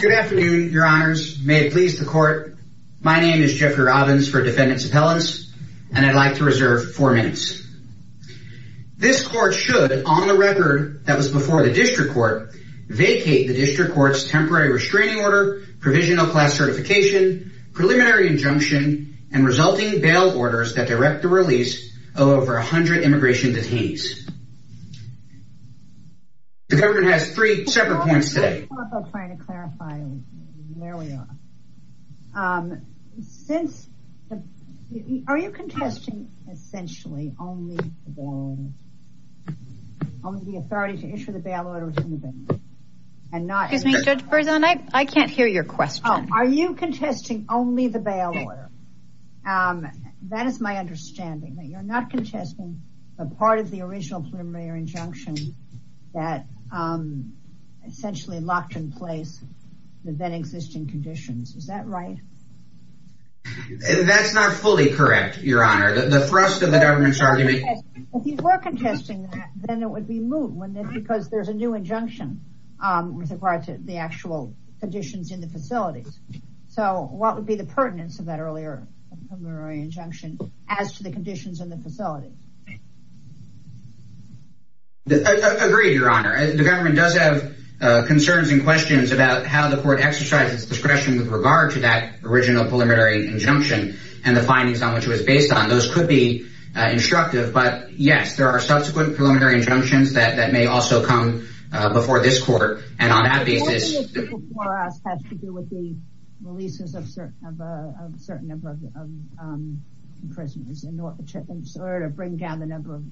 Good afternoon, your honors. May it please the court. My name is Jeffrey Robbins for defendants appellants, and I'd like to reserve four minutes. This court should on the record that was before the district court, vacate the district court's temporary restraining order, provisional class certification, preliminary injunction, and resulting bail orders that direct the release of over 100 immigration detainees. The government has three separate trying to clarify where we are. Are you contesting essentially only the authority to issue the bail order? I can't hear your question. Are you contesting only the bail order? That is my understanding that you're not contesting the part of the original preliminary injunction that essentially locked in place the then existing conditions. Is that right? That's not fully correct, your honor. The thrust of the government's argument. If you were contesting that, then it would be moot because there's a new injunction with regard to the actual conditions in the facilities. So what would be the pertinence of that earlier preliminary injunction as to the conditions in the facilities? I agree, your honor. The government does have concerns and questions about how the court exercises discretion with regard to that original preliminary injunction and the findings on which it was based on. Those could be instructive, but yes, there are subsequent preliminary injunctions that may also come before this court. And on that basis, it has to do with the releases of certain number of prisoners in order to bring down the number of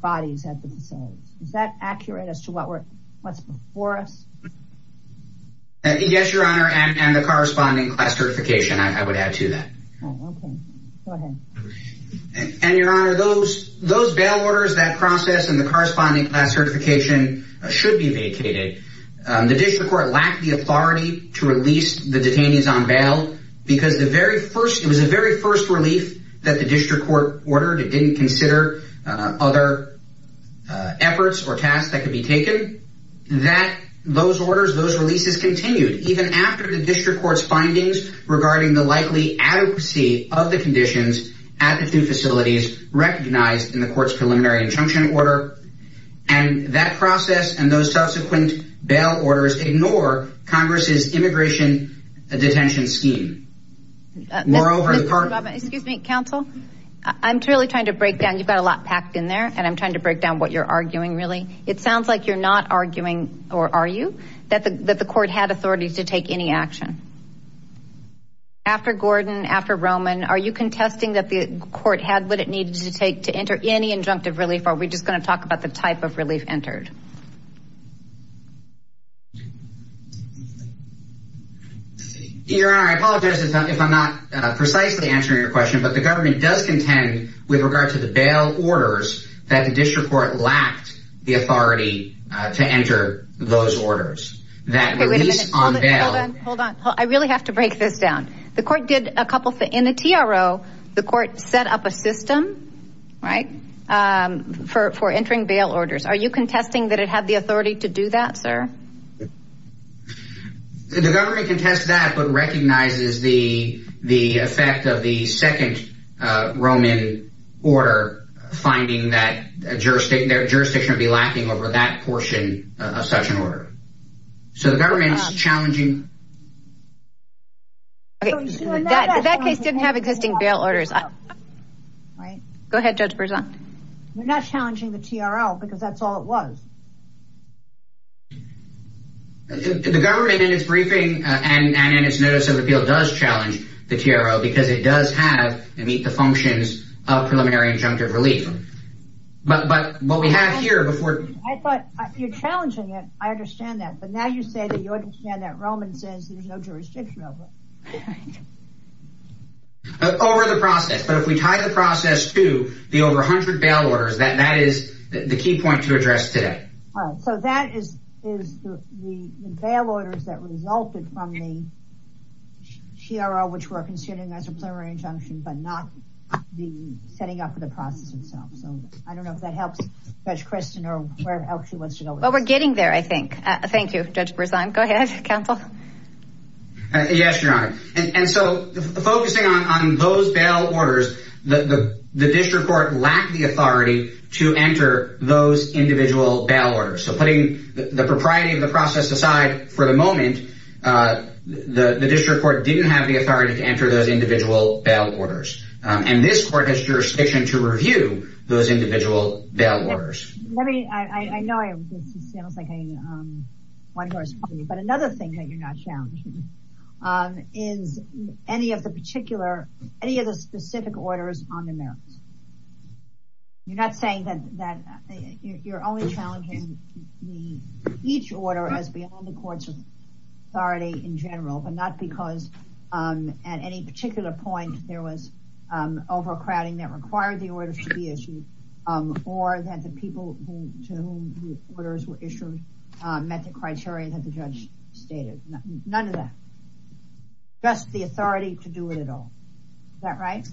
bodies at the facilities. Is that accurate as to what's before us? Yes, your honor. And the corresponding class certification, I would add to that. And your honor, those bail orders, that process and the corresponding class certification should be vacated. The district court lacked the authority to release the detainees on it. It was the very first relief that the district court ordered. It didn't consider other efforts or tasks that could be taken. Those orders, those releases continued even after the district court's findings regarding the likely adequacy of the conditions at the two facilities recognized in the court's preliminary injunction order. And that process and those Excuse me, counsel. I'm really trying to break down. You've got a lot packed in there, and I'm trying to break down what you're arguing, really. It sounds like you're not arguing, or are you? That the court had authority to take any action. After Gordon, after Roman, are you contesting that the court had what it needed to take to enter any injunctive relief, or are we just going to talk about the type of relief entered? Your honor, I apologize if I'm not precisely answering your question, but the government does contend with regard to the bail orders that the district court lacked the authority to enter those orders that were released on bail. Hold on, hold on. I really have to break this down. The court did a couple of things. In the TRO, the court set up a system, right, for entering bail orders. Are you contesting that it had the authority to do that, sir? The government contests that, but recognizes the effect of the second Roman order finding that jurisdiction would be lacking over that portion of such an order. So the government's challenging. That case didn't have existing bail orders. Go ahead, Judge Berzon. You're not challenging the TRO because that's all it was. The government in its briefing and in its notice of appeal does challenge the TRO because it does have and meet the functions of preliminary injunctive relief, but what we have here before. I thought you're challenging it. I understand that, but now you say that you understand that Roman says there's no jurisdiction over it. Over the process, but if we tie the process to the over 100 bail orders, that is the key point to address today. All right, so that is the bail orders that resulted from the TRO, which we're considering as a preliminary injunction, but not the setting up of the process itself. So I don't know if that helps Judge Kristen or where else she wants to go. But we're getting there, I think. Thank you, Judge Berzon. Go ahead, Counsel. Yes, Your Honor. And so focusing on those bail orders, the district court lacked the authority to enter those individual bail orders. So putting the propriety of the process aside for the moment, the district court didn't have the authority to enter those individual bail orders. And this court has jurisdiction to review those individual bail orders. Let me, I know this sounds like a one-horse party, but another thing that you're not challenging is any of the particular, any of the specific orders on the merits. You're not saying that you're only challenging each order as beyond the court's authority in general, but not because at any particular point there was overcrowding that required the order to be issued, or that the people to whom the orders were issued met the criteria that the judge stated. None of that. Just the authority to do it at all. Is that right?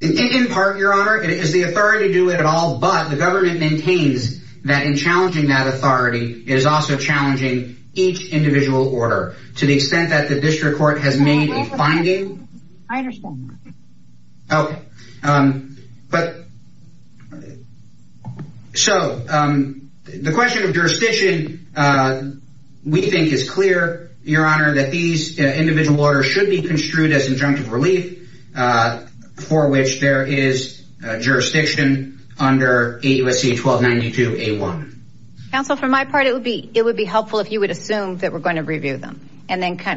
In part, Your Honor, it is the authority to do it at all, but the government maintains that in challenging that authority, it is also challenging each individual order to the extent that the district court has made a finding. I understand that. Okay. So the question of jurisdiction we think is clear, Your Honor, that these individual orders should be construed as injunctive relief for which there is jurisdiction under 8 U.S.C. 1292-A1. Counsel, for my part, it would be helpful if you would assume that we're going to review them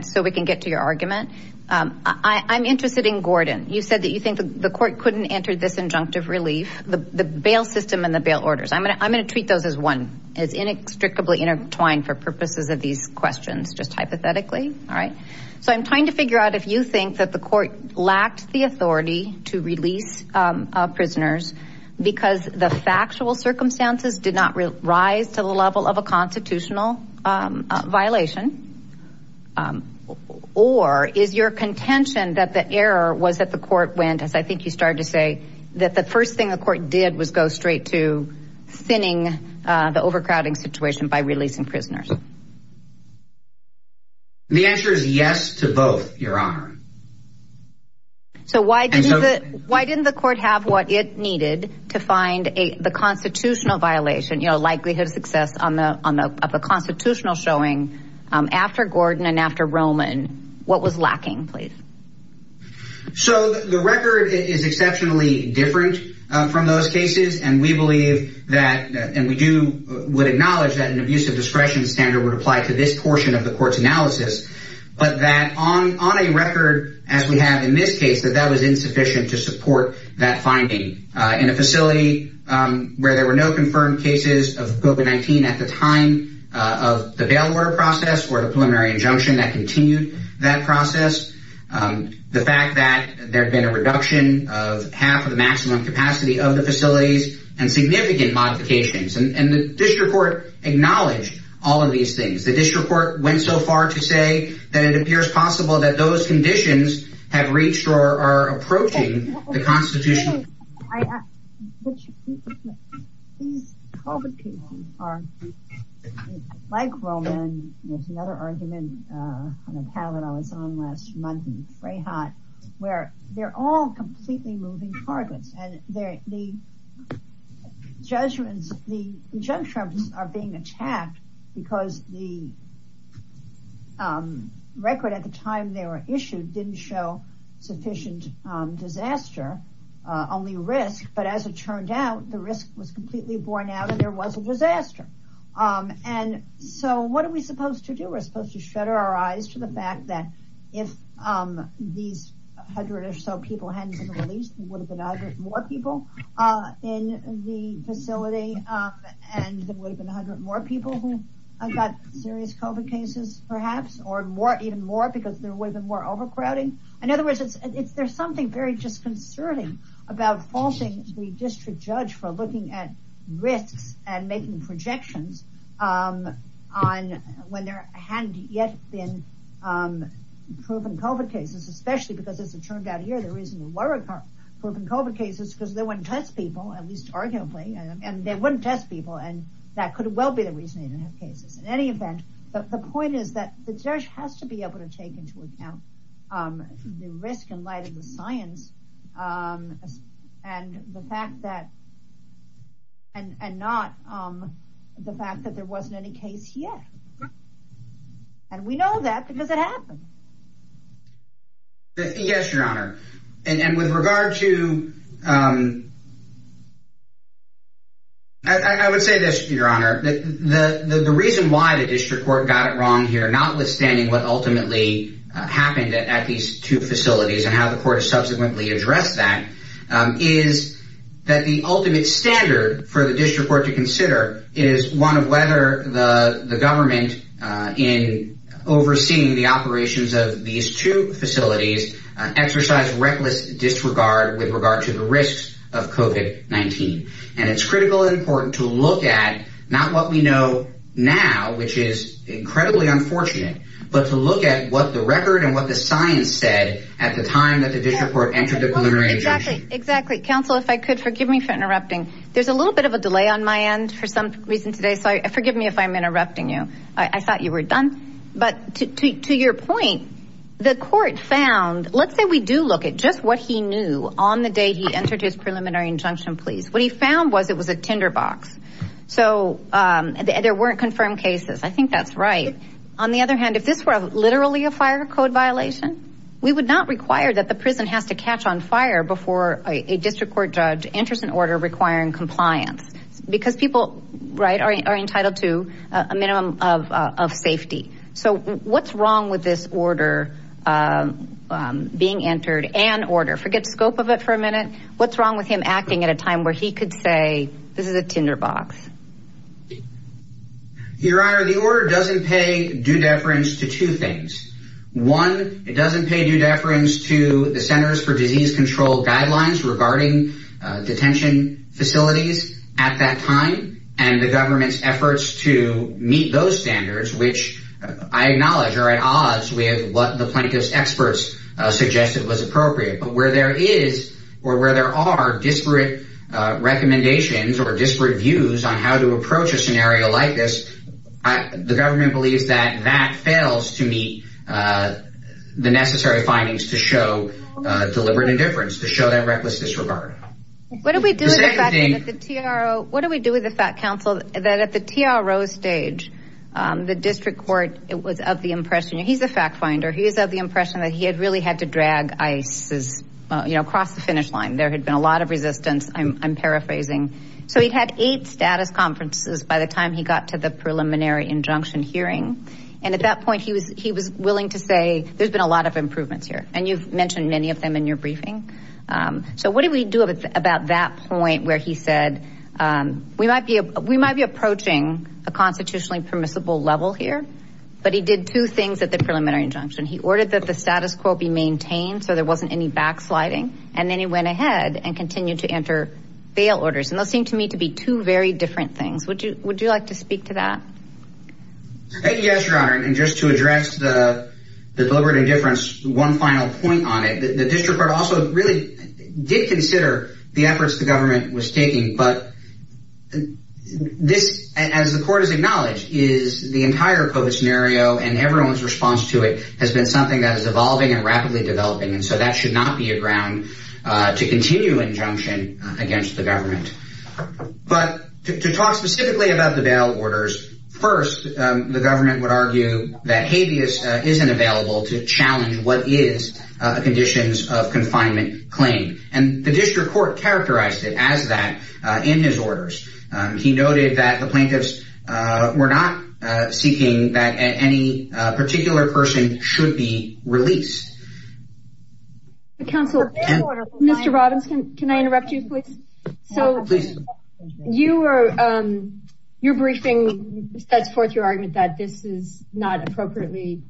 so we can get to your argument. I'm interested in Gordon. You said that you think the court couldn't enter this injunctive relief, the bail system and the bail orders. I'm going to treat those as one, as inextricably intertwined for purposes of these questions, just hypothetically. All right. So I'm trying to figure out if you think that the court lacked the authority to release prisoners because the constitutional violation, or is your contention that the error was that the court went, as I think you started to say, that the first thing the court did was go straight to thinning the overcrowding situation by releasing prisoners? The answer is yes to both, Your Honor. So why didn't the court have what it needed to find the constitutional violation, likelihood of success of the constitutional showing after Gordon and after Roman? What was lacking, please? So the record is exceptionally different from those cases, and we believe that, and we would acknowledge that an abuse of discretion standard would apply to this portion of the court's analysis, but that on a finding in a facility where there were no confirmed cases of COVID-19 at the time of the bail order process or the preliminary injunction that continued that process, the fact that there had been a reduction of half of the maximum capacity of the facilities and significant modifications, and the district court acknowledged all of these things. The district court went so far to say that it appears possible that those conditions have reached or are approaching the constitution. These COVID cases are, like Roman, there's another argument on a panel that I was on last month in Freyheit, where they're all completely moving targets, and the judgments, the junctures are being attacked because the record at the time they were issued didn't show sufficient disaster, only risk, but as it turned out, the risk was completely borne out and there was a disaster, and so what are we supposed to do? We're supposed to shudder our eyes to the fact that if these 100 or so people hadn't been released, there would have been 100 more people in the facility, and there would have been 100 more people who got serious COVID cases perhaps, or more, even more, because there would have been more overcrowding. In other words, there's something very disconcerting about faulting the district judge for looking at risks and making projections on when there hadn't yet been proven COVID cases, especially because, as it turned out here, the reason there were proven COVID cases is because they wouldn't test people, at least arguably, and they wouldn't test people, and that could well be the reason they didn't have cases. In any event, the point is that the judge has to be able to take into account the risk in light of the science and not the fact that there wasn't any case yet, and we know that because it happened. Yes, Your Honor, and with regard to... I would say this, Your Honor. The reason why the district court got it wrong here, notwithstanding what ultimately happened at these two facilities and how the court has subsequently addressed that, is that the ultimate standard for the district court to consider is one of whether the government in overseeing the operations of these two facilities exercise reckless disregard with to the risks of COVID-19, and it's critical and important to look at not what we know now, which is incredibly unfortunate, but to look at what the record and what the science said at the time that the district court entered the preliminary... Exactly. Counsel, if I could, forgive me for interrupting. There's a little bit of a delay on my end for some reason today, so forgive me if I'm interrupting you. I thought you were done, but to your point, the court found... Let's say we do look at just what he knew on the day he entered his preliminary injunction please. What he found was it was a tinderbox, so there weren't confirmed cases. I think that's right. On the other hand, if this were literally a fire code violation, we would not require that the prison has to catch on fire before a district court judge enters an order requiring compliance, because people are entitled to a minimum of safety. What's wrong with this order being entered, an order? Forget scope of it for a minute. What's wrong with him acting at a time where he could say, this is a tinderbox? Your Honor, the order doesn't pay due deference to two things. One, it doesn't pay due deference to the Centers for Disease Control guidelines regarding detention facilities at that time, and the government's efforts to meet those standards, which I acknowledge are at odds with what the plaintiff's experts suggested was appropriate, but where there is or where there are disparate recommendations or disparate views on how to approach a scenario like this, the government believes that that fails to meet the necessary findings to show deliberate indifference, to show that reckless disregard. What do we do with the fact, counsel, that at the TRO stage, the district court, it was of the impression, he's a fact finder, he's of the impression that he had really had to drag ICE across the finish line. There had been a lot of resistance, I'm paraphrasing. So he'd had eight status conferences by the time he got to the preliminary injunction hearing, and at that point he was willing to say, there's been a lot of improvements here, you've mentioned many of them in your briefing. So what do we do about that point where he said, we might be approaching a constitutionally permissible level here, but he did two things at the preliminary injunction. He ordered that the status quo be maintained, so there wasn't any backsliding, and then he went ahead and continued to enter bail orders, and those seem to me to be two very different things. Would you like to speak to that? Yes, your honor, and just to address the deliberative difference, one final point on it, the district court also really did consider the efforts the government was taking, but this, as the court has acknowledged, is the entire COVID scenario, and everyone's response to it has been something that is evolving and rapidly developing, and so that should not be a ground to continue injunction against the government. But to talk specifically about the bail orders, first, the government would argue that habeas isn't available to challenge what is the conditions of confinement claim, and the district court characterized it as that in his orders. He noted that the plaintiffs were not seeking that any particular person should be released. Counsel, Mr. Robbins, can I interrupt you, please? So, your briefing sets forth your argument that this is not appropriately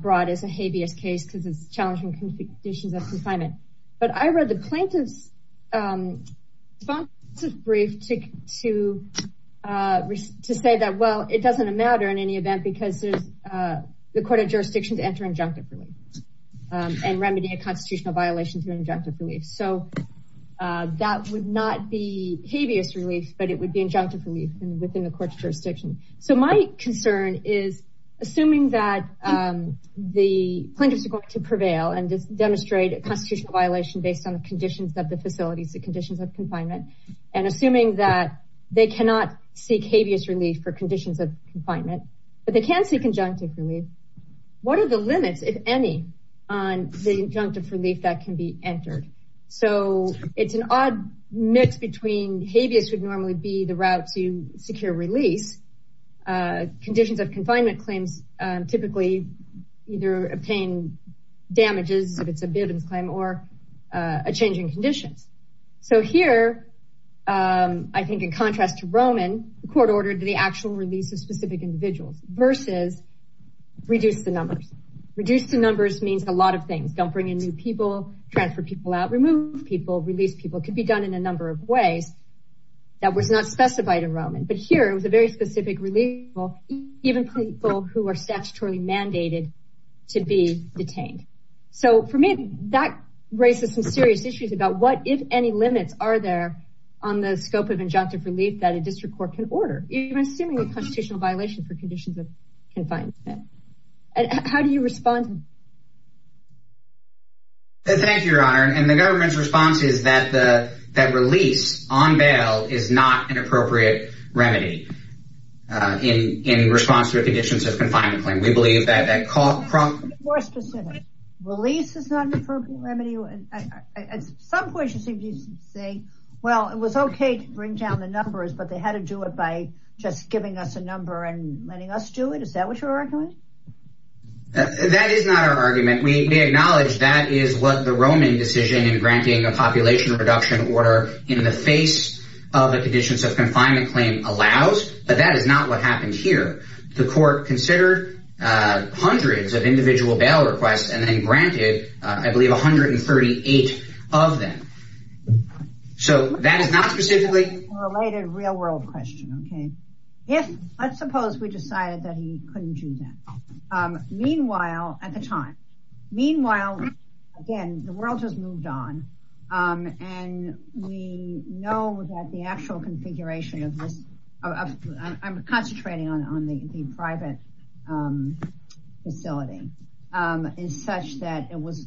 brought as a habeas case because it's challenging conditions of confinement, but I read the plaintiff's brief to say that, well, it doesn't matter in any event because the court of jurisdiction is entering injunctive relief and remedying a constitutional violation of injunctive relief. So, that would not be habeas relief, but it would be injunctive relief within the court of jurisdiction. So, my concern is, assuming that the plaintiffs are going to prevail and demonstrate a constitutional violation based on the conditions of the facilities, the conditions of confinement, and assuming that they cannot seek habeas relief for conditions of confinement, but they can seek injunctive relief, what are the limits, if any, on the injunctive relief that can be entered? So, it's an odd mix between habeas, which would normally be the route to secure release. Conditions of confinement claims typically either obtain damages, if it's a bit of a claim, or a change in conditions. So, here, I think in contrast to Roman, the court ordered the actual release of specific individuals versus reduce the numbers. Reduce the numbers means a lot of things. Don't bring in new people, transfer people out, remove people, release people. It could be done in a number of ways that was not specified in Roman. But here, it was a very specific relief, even for people who are statutorily mandated to be detained. So, for me, that raises some serious issues about what, if any, limits are there on the scope of injunctive relief that a district court can order, even assuming a constitutional violation for conditions of confinement. And how do you respond? Thank you, your honor. And the government's response is that release on bail is not an appropriate remedy in response to conditions of confinement claim. We believe that that call from... More specific. Release is not an appropriate remedy. At some point, you seem to say, well, it was okay to bring down the numbers, but they had to do it by just giving us a number and letting us do it. Is that what you're arguing? That is not our argument. We acknowledge that is what the Roman decision in granting a population reduction order in the face of the conditions of confinement claim allows. But that is not what happened here. The court considered hundreds of individual bail requests and then granted, I believe, 138 of them. So, that is not specifically... Related real world question. Okay. Let's suppose we decided that he couldn't do that. Meanwhile, at the time, meanwhile, again, the world has moved on and we know that the actual configuration of this... I'm concentrating on the private facility, is such that it was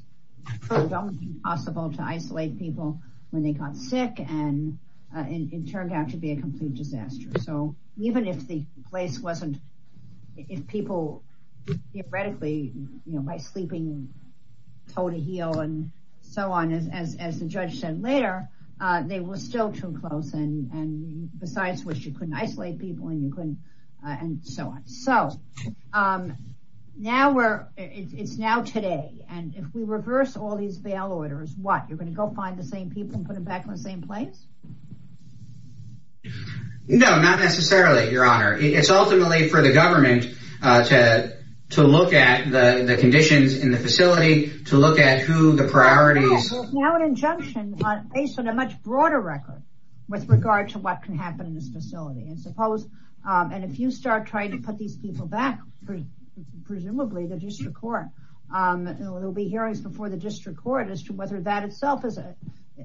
possible to isolate people when they got sick and it turned out to be a complete disaster. So, even if the place wasn't... If people theoretically, by sleeping toe to heel and so on, as the judge said later, they were still too close and besides which you couldn't isolate people and you couldn't and so on. So, now we're... It's now today and if we reverse all these bail orders, what? You're going to go find the same people and put them back in the same place? No, not necessarily, your honor. It's ultimately for the government to look at the conditions in the facility, to look at who the priorities... Now an injunction based on a much broader record with regard to what can happen in this facility. And if you start trying to put these people back, presumably the district court, there'll be hearings before the district court as to whether that itself is a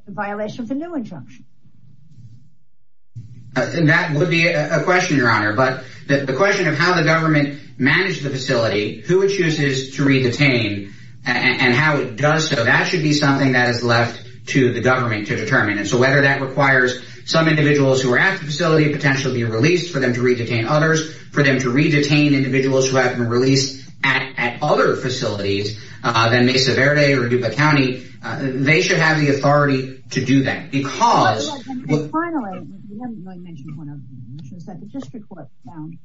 violation of the new injunction. And that would be a question, your honor, but the question of how the government managed the facility, who it chooses to re-detain and how it does so, that should be something that is left to the government to determine. And so, whether that requires some individuals who are at the facility to be released, for them to re-detain others, for them to re-detain individuals who haven't been released at other facilities than Mesa Verde or Dupa County, they should have the authority to do that because... Finally, we haven't really mentioned one other thing, which is that the district court found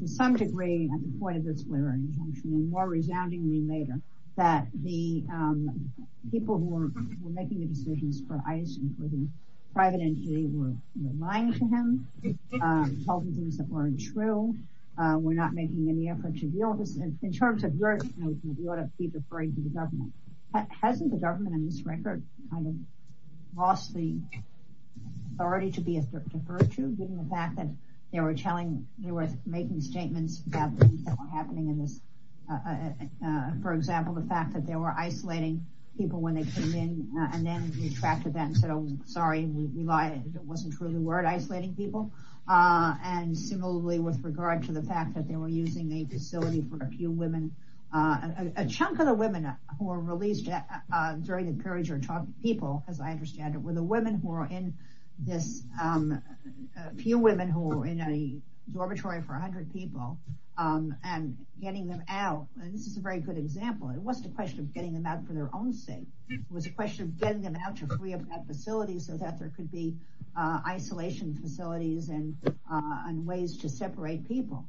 to some degree at the point of this flaring injunction, and more resoundingly later, that the people who were making the decisions for ICE, including private entity, were lying to him, told him things that weren't true, were not making any effort to deal with this. In terms of your, you know, you ought to be deferring to the government. Hasn't the government in this record kind of lost the authority to be deferred to, given the fact that they were telling, they were making statements about things that were happening in this, for example, the fact that they were isolating people when they came in and then retracted that and said, oh, sorry, we lied. It wasn't true. They weren't isolating people. And similarly, with regard to the fact that they were using a facility for a few women, a chunk of the women who were released during the periods or 12 people, as I understand it, were the women who are in this, a few women who were in a dormitory for 100 people and getting them out. And this is a very good example. It wasn't a question of getting them out for their own sake. It was a question of getting them out to free up that facility so that there could be isolation facilities and ways to separate people.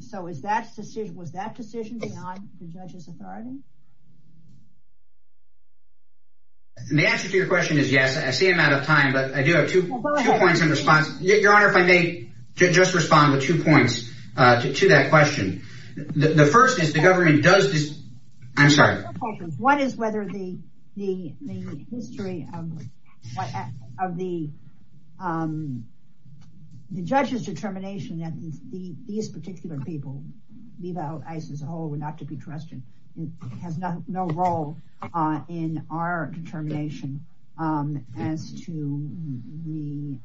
So was that decision beyond the judge's authority? The answer to your question is yes. I see I'm out of time, but I do have two points in response. Your Honor, if I may just respond with two points to that question. The first is the government does this. I'm sorry. What is whether the history of the judge's determination that these particular people, leave out ISIS as a whole and not to be trusted, has no role in our determination as to the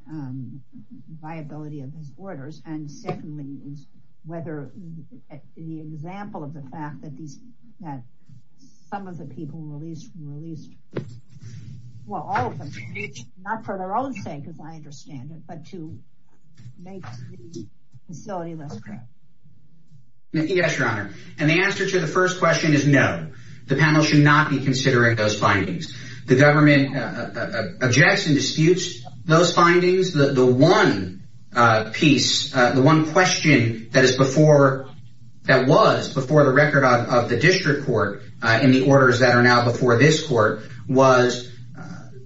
viability of his orders. And secondly, is whether the example of the fact that these, that some of the people released, released, well, all of them, not for their own sake, as I understand it, but to make the facility less corrupt. Yes, Your Honor. And the answer to the first question is no. The panel should not be considering those findings. The government objects and disputes those findings. The one piece, the one question that is before, that was before the record of the district court in the orders that are now before this court, was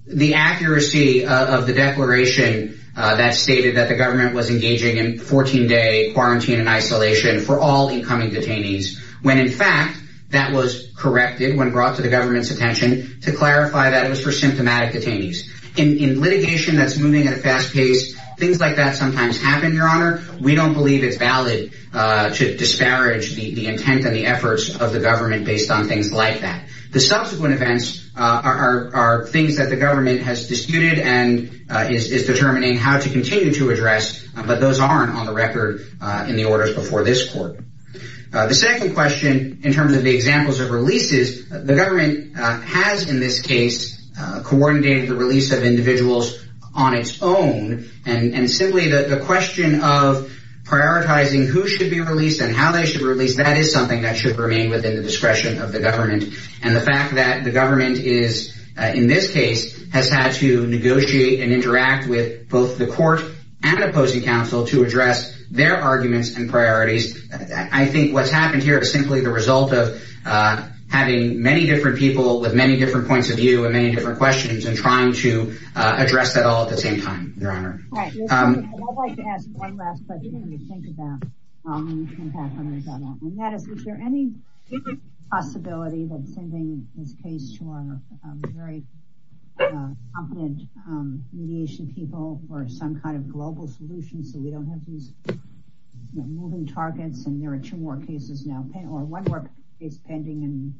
the accuracy of the declaration that stated that the government was engaging in 14-day quarantine and isolation for all incoming detainees. When in fact, that was corrected when brought to the government's attention to clarify that it was for symptomatic detainees. In litigation that's moving at a fast pace, things like that sometimes happen, Your Honor. We don't believe it's valid to disparage the intent and the efforts of the government based on things like that. The subsequent events are things that the government has disputed and is determining how to continue to address, but those aren't on the record in the orders before this court. The second question in terms of the examples of releases, the government has in this case coordinated the release of individuals on its own. And simply the question of prioritizing who should be released and how they should release, that is something that should remain within the discretion of the government. And the fact that the government is, in this case, has had to negotiate and interact with both the court and opposing counsel to address their arguments and I think what's happened here is simply the result of having many different people with many different points of view and many different questions and trying to address that all at the same time, Your Honor. I'd like to ask one last question to think about. And that is, is there any possibility that sending this case to our very competent mediation people for some global solutions so we don't have these moving targets and there are two more cases now or one work is pending and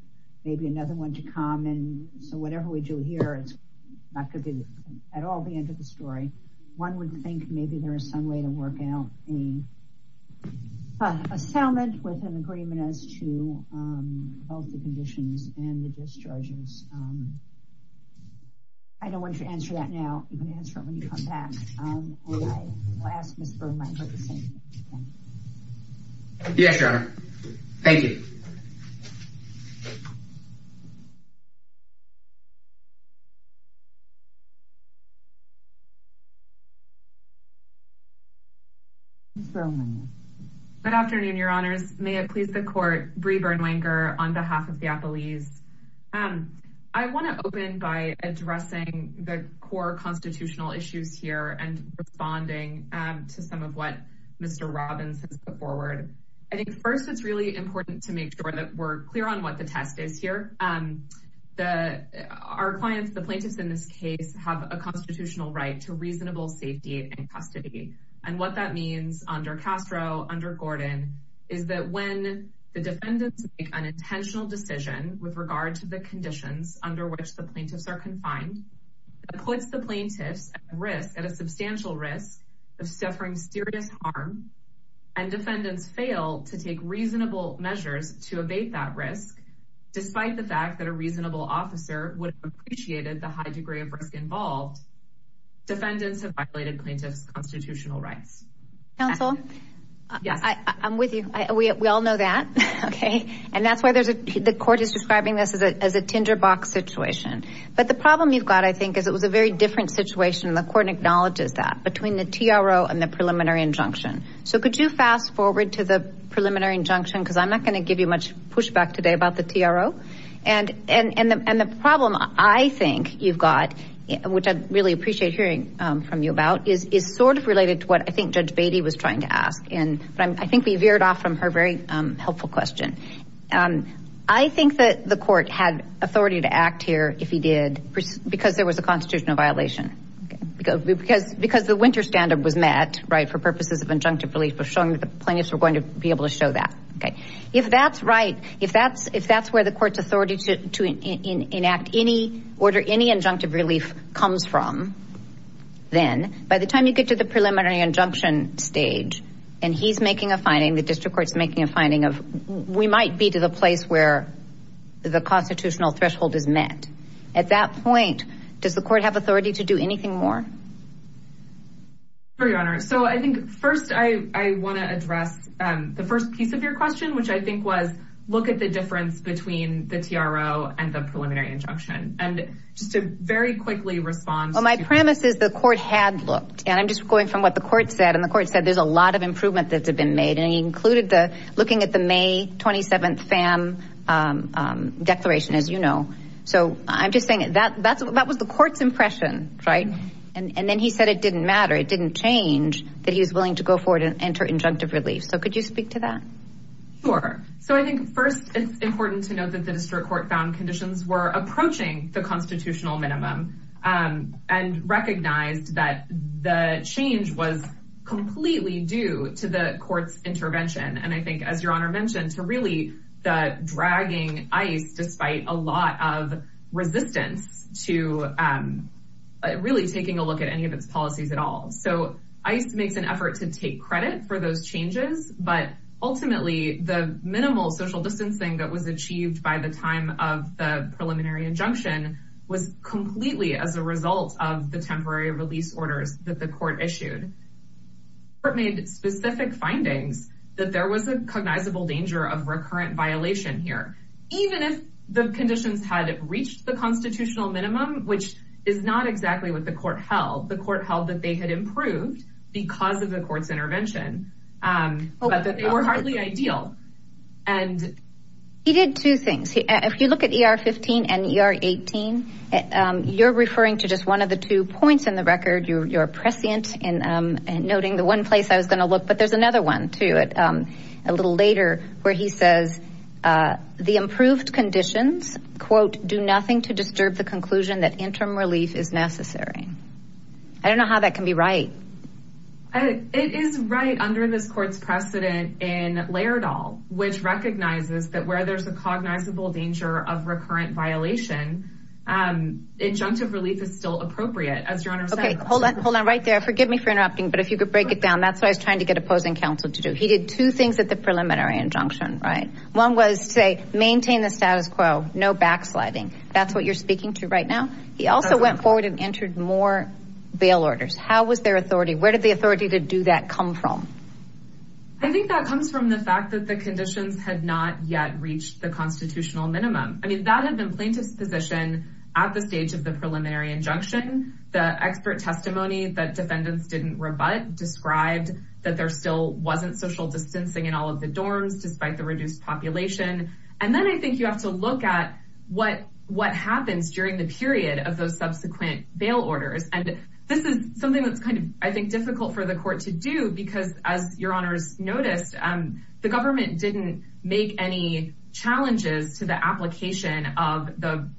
maybe another one to come. And so whatever we do here, it's not going to be at all the end of the story. One would think maybe there is some way to work out an assignment with an agreement as to both the conditions and the discharges. Um, I don't want you to answer that now. You can answer it when you come back. Yes, Your Honor. Thank you. Good afternoon, Your Honors. May it please the court, Brie Burnwanger on behalf of the Appellees. Um, I want to open by addressing the core constitutional issues here and responding to some of what Mr. Robbins has put forward. I think first it's really important to make sure that we're clear on what the test is here. Um, the, our clients, the plaintiffs in this case have a constitutional right to reasonable safety and custody. And what that means under Castro, under Gordon is that when the defendants make an intentional decision with regard to the conditions under which the plaintiffs are confined, it puts the plaintiffs at risk, at a substantial risk of suffering serious harm and defendants fail to take reasonable measures to abate that risk. Despite the fact that a reasonable officer would have appreciated the high degree of risk involved, defendants have violated plaintiffs' constitutional rights. Counsel, I'm with you. We all know that. Okay. And that's why there's a, the court is describing this as a, as a tinderbox situation. But the problem you've got, I think, is it was a very different situation. The court acknowledges that between the TRO and the preliminary injunction. So could you fast forward to the preliminary injunction? Cause I'm not going to give you much pushback today about the TRO. And, and, and the, and the problem I think you've got, which I'd really appreciate hearing from you about is, is sort of related to what I think Judge Beatty was trying to ask. And I think we veered off from her very helpful question. I think that the court had authority to act here if he did, because there was a constitutional violation because, because, because the winter standard was met, right? For purposes of injunctive relief of showing that the plaintiffs were going to be able to show that. Okay. If that's right, if that's, if that's where the court's authority to, to enact any order, any injunctive relief comes from, then by the time you get to the preliminary injunction stage, and he's making a finding, the district court's making a finding of, we might be to the place where the constitutional threshold is met. At that point, does the court have authority to do anything more? For your honor. So I think first I, I want to address the first piece of your question, which I think was, look at the difference between the TRO and the preliminary injunction. And just to very quickly respond. Well, my premise is the court had looked, and I'm just going from what the court said. And the court said, there's a lot of improvement that's been made. And he included the, looking at the May 27th FAM declaration, as you know. So I'm just saying that that's, that was the court's impression, right? And then he said it didn't matter. It didn't change that he was willing to go forward and enter injunctive relief. So could you speak to that? Sure. So I think first it's important to note that the district court found conditions were approaching the constitutional minimum and recognized that the change was completely due to the court's intervention. And I think as your honor mentioned to really the dragging ICE, despite a lot of resistance to really taking a look at any of its policies at all. So ICE makes effort to take credit for those changes, but ultimately the minimal social distancing that was achieved by the time of the preliminary injunction was completely as a result of the temporary release orders that the court issued. Court made specific findings that there was a cognizable danger of recurrent violation here. Even if the conditions had reached the constitutional minimum, which is not exactly what the court held. The court held that they had improved because of the court's intervention, but that they were hardly ideal. And he did two things. If you look at ER 15 and ER 18, you're referring to just one of the two points in the record. You're prescient in noting the one place I was going to look, but there's another one too. A little later where he says the improved conditions, quote, do nothing to disturb the conclusion that interim relief is necessary. I don't know how that can be right. It is right under this court's precedent in Laerdal, which recognizes that where there's a cognizable danger of recurrent violation, injunctive relief is still appropriate as your honor said. Okay, hold on right there. Forgive me for interrupting, but if you could break it down, that's what I was trying to get opposing counsel to do. He did two things at the preliminary injunction, right? One was to maintain the status quo, no backsliding. That's what you're speaking to right now. He also went forward and entered more bail orders. How was their authority? Where did the authority to do that come from? I think that comes from the fact that the conditions had not yet reached the constitutional minimum. I mean, that had been plaintiff's position at the stage of the preliminary injunction. The expert testimony that defendants didn't rebut described that there still wasn't social distancing in all of the dorms despite the reduced population. And then I think you have to look at what happens during the period of those subsequent bail orders. And this is something that's kind of, I think, difficult for the court to do because as your honors noticed, the government didn't make any challenges to the application of the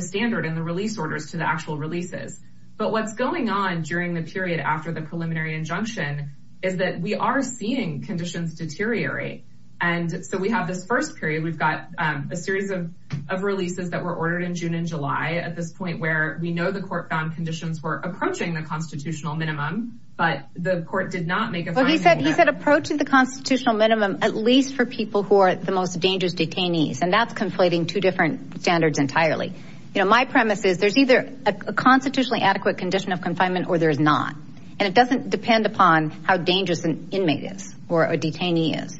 standard and the release orders to the actual releases. But what's going on during the period after the preliminary injunction is that we are seeing conditions deteriorate. And so we have this first period. We've got a series of releases that were ordered in June and July at this point where we know the court found conditions were approaching the constitutional minimum, but the court did not make a fine. Well, he said he said approaching the constitutional minimum, at least for people who are the most dangerous detainees. And that's conflating two different standards entirely. You know, my premise is there's either a constitutionally adequate condition of confinement or there is not. And it doesn't depend upon how dangerous an inmate is or a detainee is.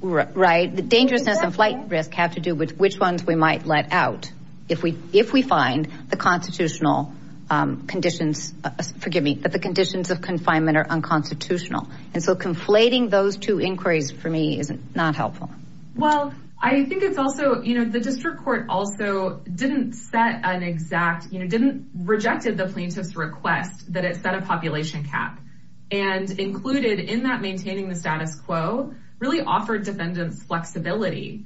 Right. The dangerousness and flight risk have to do with which ones we might let out if we if we find the constitutional conditions. Forgive me, but the conditions of confinement are unconstitutional. And so conflating those two inquiries for me is not helpful. Well, I think it's also, you know, the district court also didn't set an exact, you know, didn't rejected the plaintiff's request that it set a population cap and included in that maintaining the status quo really offered defendants flexibility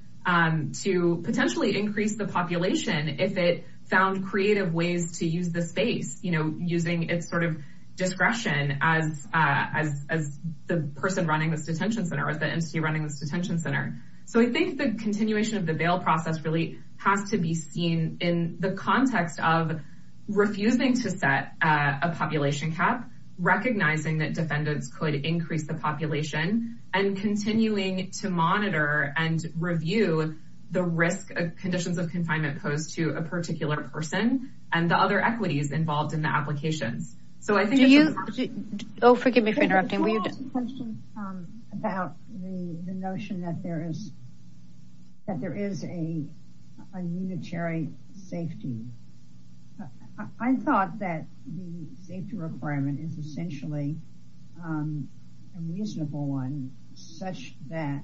to potentially increase the population if it found creative ways to use the space, you know, using its sort of discretion as as as the person running this detention center or the entity running this detention center. So I think the continuation of the bail process really has to be seen in the context of refusing to set a population cap, recognizing that defendants could increase the population and continuing to monitor and review the risk of conditions of confinement posed to a particular person and the other equities involved in the applications. So I think you. Oh, forgive me for interrupting. We have questions about the notion that there is. A unitary safety. I thought that the safety requirement is essentially a reasonable one such that.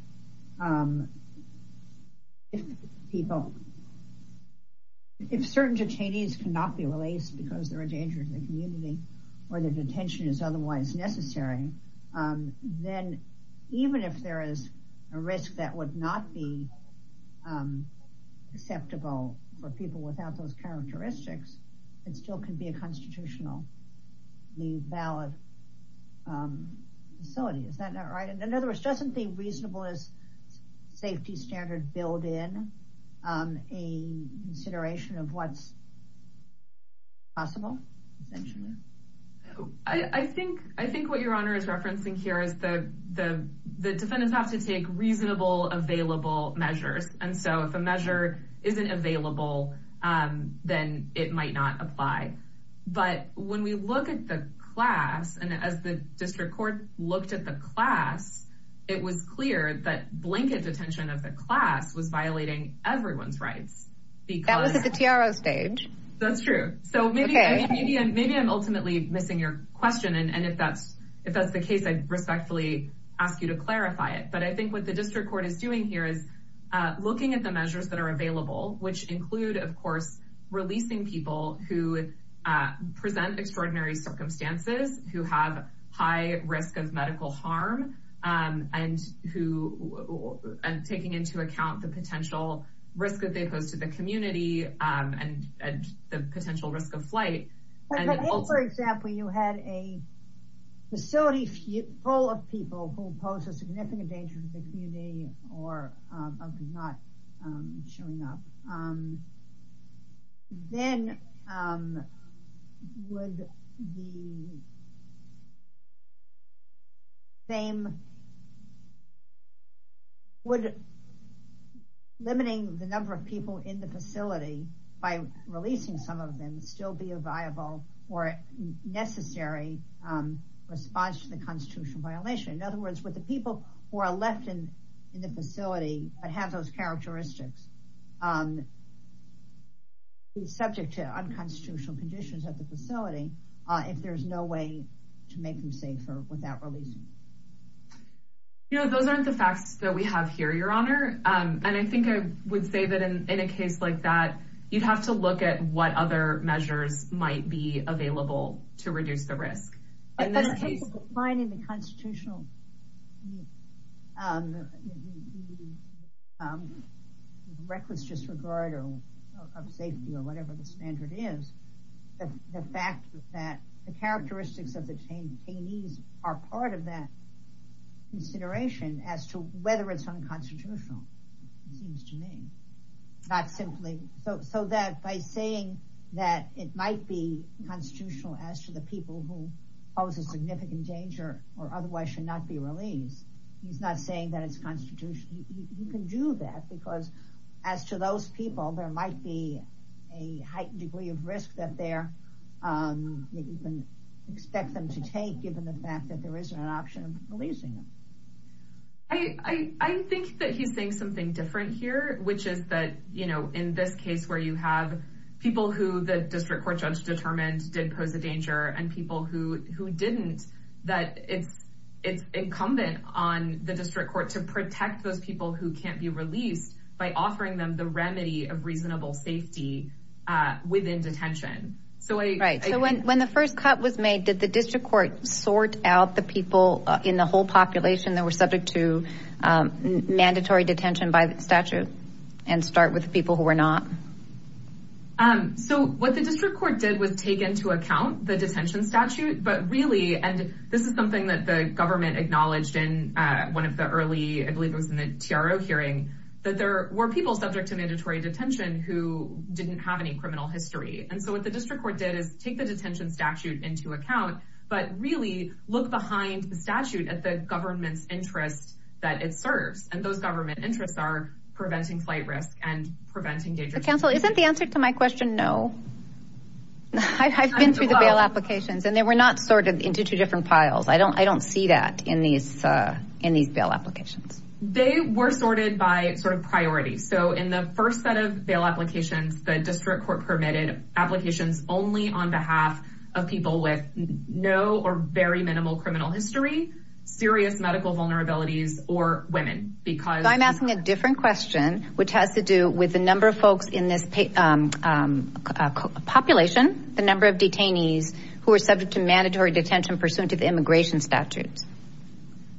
If people. If certain detainees cannot be released because they're a danger to the community or the detention is otherwise necessary, then even if there is a risk that would not be acceptable for people without those characteristics, it still can be a constitutionally valid facility. Is that not right? And in other words, doesn't the reasonableness safety standard build in a consideration of what's possible? I think I think what your honor is referencing here is the the the defendants have to take reasonable available measures. And so if a measure isn't available, then it might not apply. But when we look at the class and as the district court looked at the class, it was clear that blanket detention of the class was violating everyone's rights. That was at the TRO stage. That's true. So maybe maybe I'm ultimately missing your question. And if that's if that's the case, I respectfully ask you to clarify it. But I think what the district court is doing here is looking at the measures that are available, which include, of course, releasing people who present extraordinary circumstances, who have high risk of medical harm and who are taking into account the potential risk that they pose to the community and the potential risk of flight. For example, you had a facility full of people who pose a same. Would limiting the number of people in the facility by releasing some of them still be a viable or necessary response to the constitutional violation? In other words, with the people who are left in the facility that have those characteristics. He's subject to unconstitutional conditions at the facility if there's no way to make him safer without releasing. You know, those aren't the facts that we have here, your honor. And I think I would say that in a case like that, you'd have to look at what other measures might be available to reduce the risk in this case, finding the constitutional. Reckless disregard of safety or whatever the standard is, the fact that the characteristics of the change are part of that consideration as to whether it's unconstitutional. It seems to me not simply so that by saying that it might be constitutional as to the people who pose a significant danger or otherwise should not be released. He's not saying that it's constitutional. You can do that because as to those people, there might be a heightened degree of risk that you can expect them to take given the fact that there isn't an option of releasing them. I think that he's saying something different here, which is that, you know, in this case where you have people who the district court judge determined did pose a danger and people who didn't, that it's incumbent on the district court to protect those people who can't be released by offering them the remedy of reasonable safety within detention. So when the first cut was made, did the district court sort out the people in the whole population that were subject to mandatory detention by the statute and start with the people who were not? So what the district court did was take into account the detention statute, but really, and this is something that the government acknowledged in one of the early, I believe it was in the TRO hearing, that there were people subject to mandatory detention who didn't have any criminal history. And so what the district court did is take the detention statute into account, but really look behind the statute at the government's interest that it serves. And those government interests are preventing flight risk and preventing danger. Counsel, isn't the answer to my question? No, I've been through the bail applications and they were not sorted into two different piles. I don't see that in these bail applications. They were sorted by sort of priorities. So in the first set of bail applications, the district court permitted applications only on behalf of people with no or very minimal criminal history, serious medical vulnerabilities, or women. I'm asking a different question, which has to do with the number of folks in this population, the number of detainees who are subject to detention pursuant to the immigration statutes.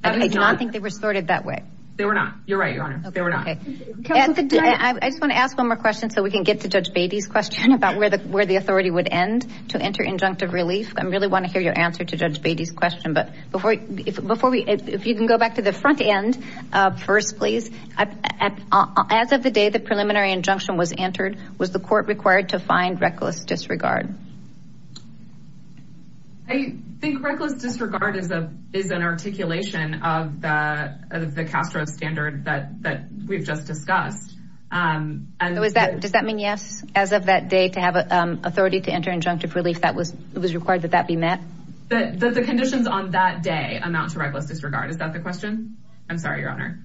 I do not think they were sorted that way. They were not. You're right, Your Honor. They were not. I just want to ask one more question so we can get to Judge Beatty's question about where the authority would end to enter injunctive relief. I really want to hear your answer to Judge Beatty's question, but if you can go back to the front end first, please. As of the day the preliminary injunction was entered, was the court required to find reckless disregard? I think reckless disregard is an articulation of the CASTRO standard that we've just discussed. So does that mean yes, as of that day, to have authority to enter injunctive relief, it was required that that be met? That the conditions on that day amount to reckless disregard. Is that the question? I'm sorry, Your Honor.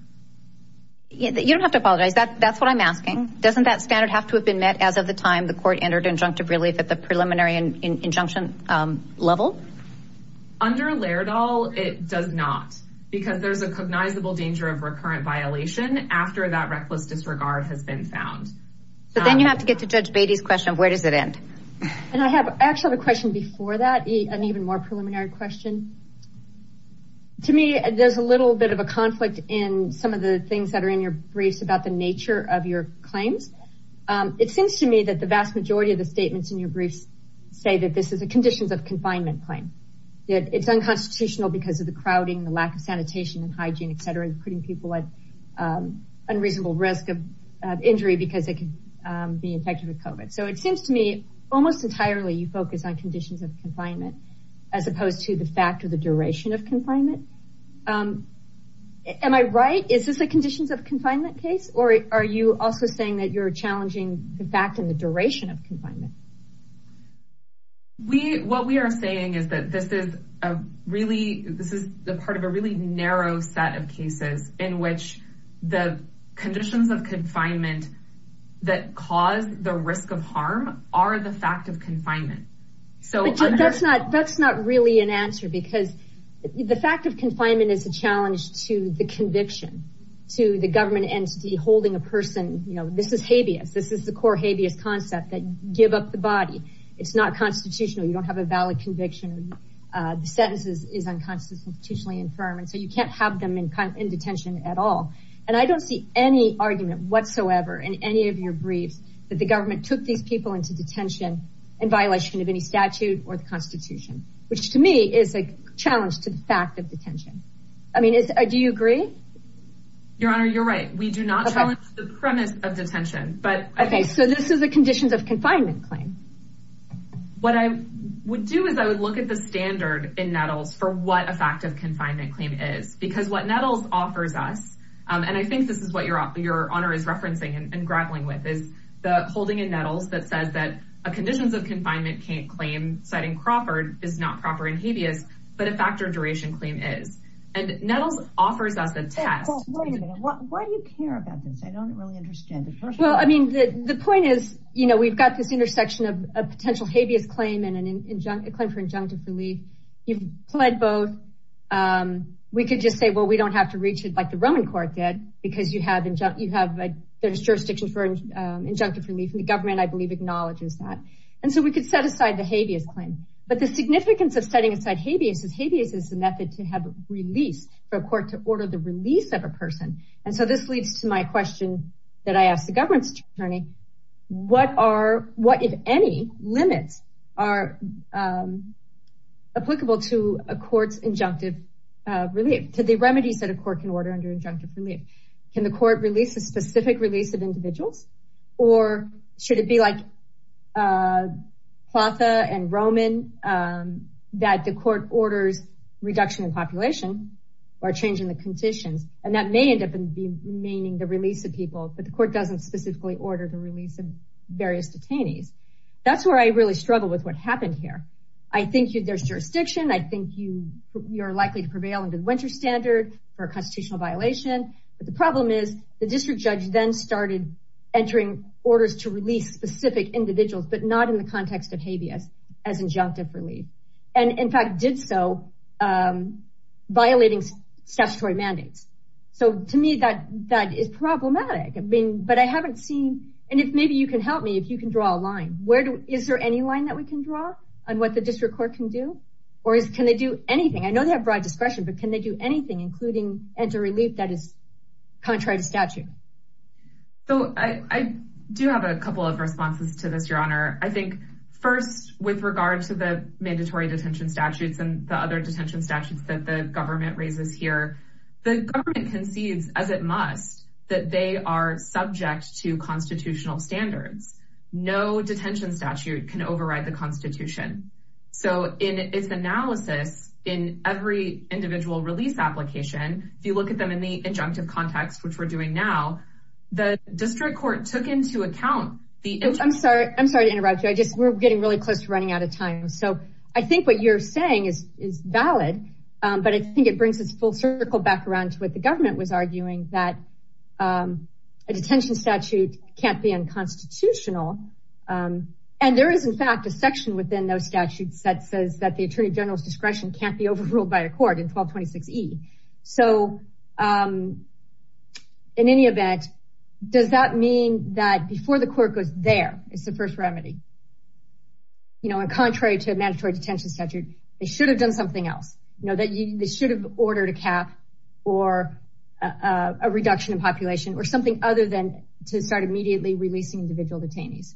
You don't have to apologize. That's what I'm asking. Doesn't that standard have to have been met as of the time the court entered injunctive relief at the preliminary injunction level? Under Laerdal, it does not because there's a cognizable danger of recurrent violation after that reckless disregard has been found. But then you have to get to Judge Beatty's question of where does it end? And I actually have a question before that, an even more preliminary question. To me, there's a little bit of a conflict in some of the things that are in your briefs about the nature of your claims. It seems to me that the vast majority of the statements in your briefs say that this is a conditions of confinement claim. That it's unconstitutional because of the crowding, the lack of sanitation and hygiene, et cetera, putting people at unreasonable risk of injury because they can be infected with COVID. So it seems to me almost entirely you focus on conditions of confinement as opposed to the fact of the duration of confinement. Am I right? Is this a conditions of confinement case? Or are you also saying that you're challenging the fact and the duration of confinement? We, what we are saying is that this is a really, this is the part of a really narrow set of cases in which the conditions of confinement that cause the risk of harm are the fact of confinement. So that's not, that's not really an answer because the fact of confinement is a challenge to the conviction, to the government entity holding a person, you know, this is habeas. This is the core habeas concept that you give up the body. It's not constitutional. You don't have a valid conviction. The sentence is unconstitutionally infirm. And so you can't have them in detention at all. And I don't see any argument whatsoever in any of your briefs that the government took these people into detention in violation of any statute or the constitution, which to me is a challenge to the fact of detention. I mean, do you agree? Your Honor, you're right. We do not challenge the premise of detention, but. Okay. So this is a conditions of confinement claim. What I would do is I would look at the standard in Nettles for what a fact of confinement claim is because what Nettles offers us, and I think this is what your Honor is referencing and grappling with is the holding in Nettles that says that a conditions of confinement claim citing Crawford is not proper in habeas, but a factor duration claim is. And Nettles offers us a test. Why do you care about this? I don't really understand it. Well, I mean, the point is, you know, we've got this intersection of a potential habeas claim and a claim for injunctive relief. You've pled both. We could just say, well, we don't have to reach it like the Roman court did because you have a jurisdiction for injunctive relief. And the government, I believe, acknowledges that. And so we could set aside the habeas claim. But the significance of setting aside habeas is habeas is the method to have a release for a court to order the release of a person. And so this leads to my question that I asked the government attorney. What are what, if any, limits are applicable to a court's injunctive relief to the remedies that a court can order under injunctive relief? Can the court release a specific release of individuals or should it be like Platha and or changing the conditions? And that may end up being meaning the release of people. But the court doesn't specifically order the release of various detainees. That's where I really struggle with what happened here. I think there's jurisdiction. I think you you're likely to prevail under the winter standard for a constitutional violation. But the problem is the district judge then started entering orders to release specific individuals, but not in the context of habeas as injunctive relief. And in fact, did so violating statutory mandates. So to me, that that is problematic. I mean, but I haven't seen. And if maybe you can help me, if you can draw a line, where is there any line that we can draw on what the district court can do? Or can they do anything? I know they have broad discretion, but can they do anything, including enter relief that is contrary to statute? So I do have a couple of responses to this, Your Honor. I think first, with regard to the mandatory detention statutes and the other detention statutes that the government raises here, the government concedes, as it must, that they are subject to constitutional standards. No detention statute can override the Constitution. So in its analysis, in every individual release application, if you look at them in the injunctive context, which we're doing now, the district court took into account. I'm sorry. I'm sorry to interrupt you. I just we're getting really close to running out of time. So I think what you're saying is valid. But I think it brings us full circle back around to what the government was arguing, that a detention statute can't be unconstitutional. And there is, in fact, a section within those statutes that says that the attorney general's discretion can't be overruled by a court in 1226 E. So in any event, does that mean that before the court goes there, it's the first remedy? You know, and contrary to a mandatory detention statute, they should have done something else. You know, they should have ordered a cap or a reduction in population or something other than to start immediately releasing individual detainees.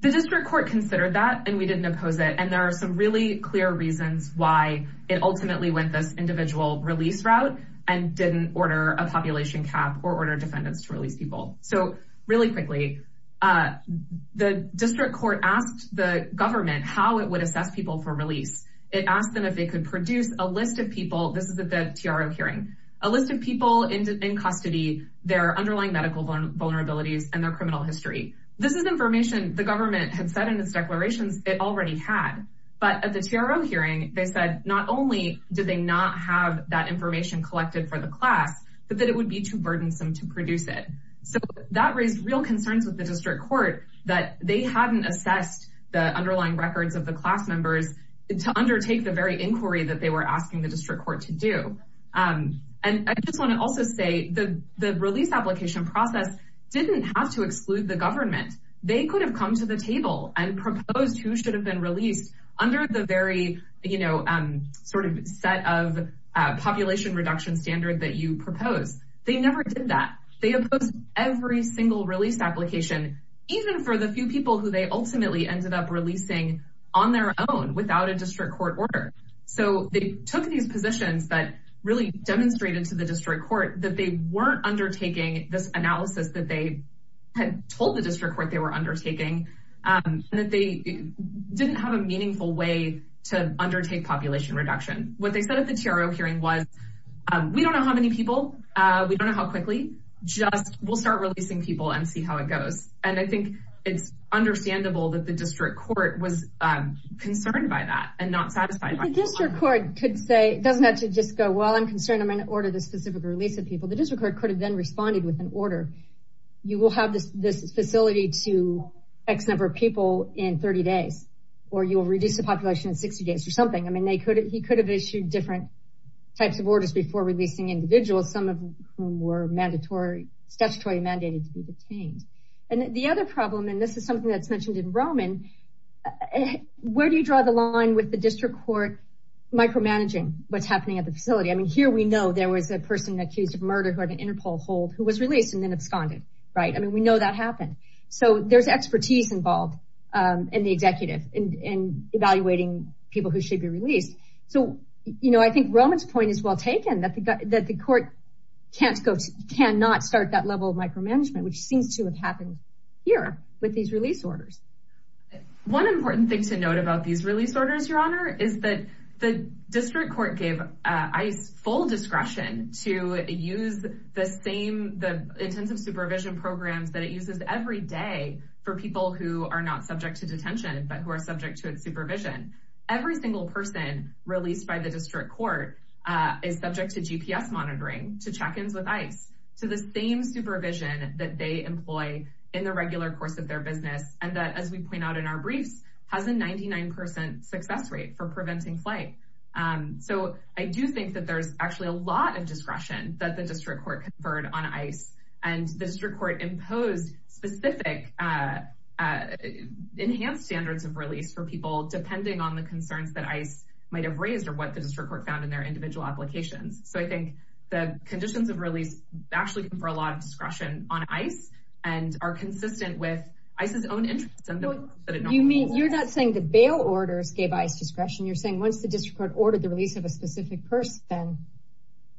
The district court considered that, and we didn't oppose it. There are some really clear reasons why it ultimately went this individual release route and didn't order a population cap or order defendants to release people. So really quickly, the district court asked the government how it would assess people for release. It asked them if they could produce a list of people. This is a TRM hearing, a list of people in custody, their underlying medical vulnerabilities and their criminal history. This is information the government had said in its declarations it already had. But at the TRM hearing, they said not only did they not have that information collected for the class, but that it would be too burdensome to produce it. So that raised real concerns with the district court that they hadn't assessed the underlying records of the class members to undertake the very inquiry that they were asking the district court to do. And I just want to also say that the release application process didn't have to exclude the government. They could have come to the table and proposed who should have been released under the very set of population reduction standard that you propose. They never did that. They opposed every single release application, even for the few people who they ultimately ended up releasing on their own without a district court order. So they took these positions that really demonstrated to the district court that they weren't undertaking this analysis that they had told the district court they were undertaking, and that they didn't have a meaningful way to undertake population reduction. What they said at the TRM hearing was, we don't know how many people, we don't know how quickly, just we'll start releasing people and see how it goes. And I think it's understandable that the district court was concerned by that and not satisfied by it. The district court could say, it doesn't have to just go, well, I'm concerned I'm going to order this specific release of people. The district court could have then responded with an order. You will have this facility to X number of people in 30 days, or you will reduce the population in 60 days or something. I mean, he could have issued different types of orders before releasing individuals, some of whom were statutory mandated to be detained. And the other problem, and this is something that's mentioned in Roman, where do you draw the line with the district court micromanaging what's happening at the facility? Here we know there was a person accused of murder who had an Interpol hold who was released and then absconded. We know that happened. So there's expertise involved in the executive in evaluating people who should be released. So I think Roman's point is well taken, that the court cannot start that level of micromanagement, which seems to have happened here with these release orders. One important thing to note about these release orders, Your Honor, is that the district court gave ICE full discretion to use the same, the intensive supervision programs that it uses every day for people who are not subject to detention, but who are subject to its supervision. Every single person released by the district court is subject to GPS monitoring, to check ins with ICE, to the same supervision that they employ in the regular course of their business. And that, as we point out in our briefs, has a 99% success rate for preventing flight. So I do think that there's actually a lot of discretion that the district court conferred on ICE and the district court imposed specific enhanced standards of release for people, depending on the concerns that ICE might have raised or what the district court found in their individual applications. So I think the conditions of release actually confer a lot of discretion on ICE and are consistent with ICE's own interests. You mean, you're not saying the bail orders gave ICE discretion. You're saying once the district court ordered the release of a specific person,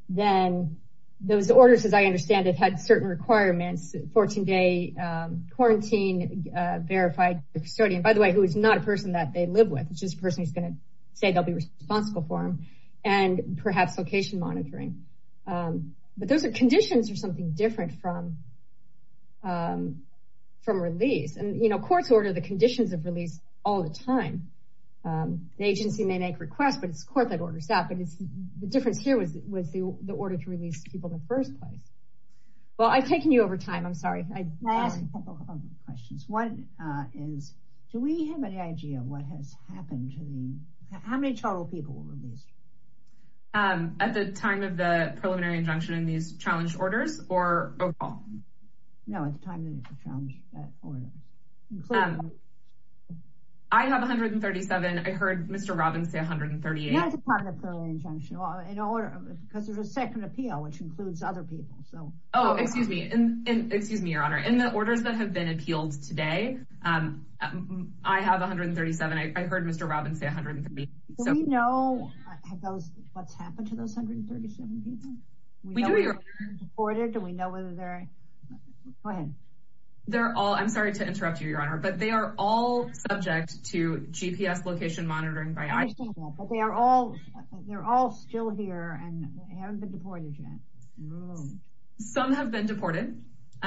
then those orders, as I understand it, had certain requirements. 14-day quarantine, verified custodian, by the way, who is not a person that they live with. It's just a person who's going to say they'll be responsible for them, and perhaps location monitoring. But those are conditions for something different from release. And, you know, courts order the conditions of release all the time. The agency may make requests, but it's the court that orders that. But the difference here was the order to release people in the first place. Well, I've taken you over time. I'm sorry. Can I ask a couple of questions? One is, do we have an idea of what has happened? How many total people were released? At the time of the preliminary injunction in these challenge orders or overall? No, at the time of the challenge order. Um, I have 137. I heard Mr. Robbins say 138. Not at the time of the preliminary injunction, because there's a second appeal, which includes other people. So. Oh, excuse me. And excuse me, Your Honor. In the orders that have been appealed today, I have 137. I heard Mr. Robbins say 138. Do we know what's happened to those 137 people? We do, Your Honor. Do we know whether they're, go ahead. They're all, I'm sorry to interrupt you, Your Honor, but they are all subject to GPS location monitoring. But they are all, they're all still here and haven't been deported yet. Some have been deported.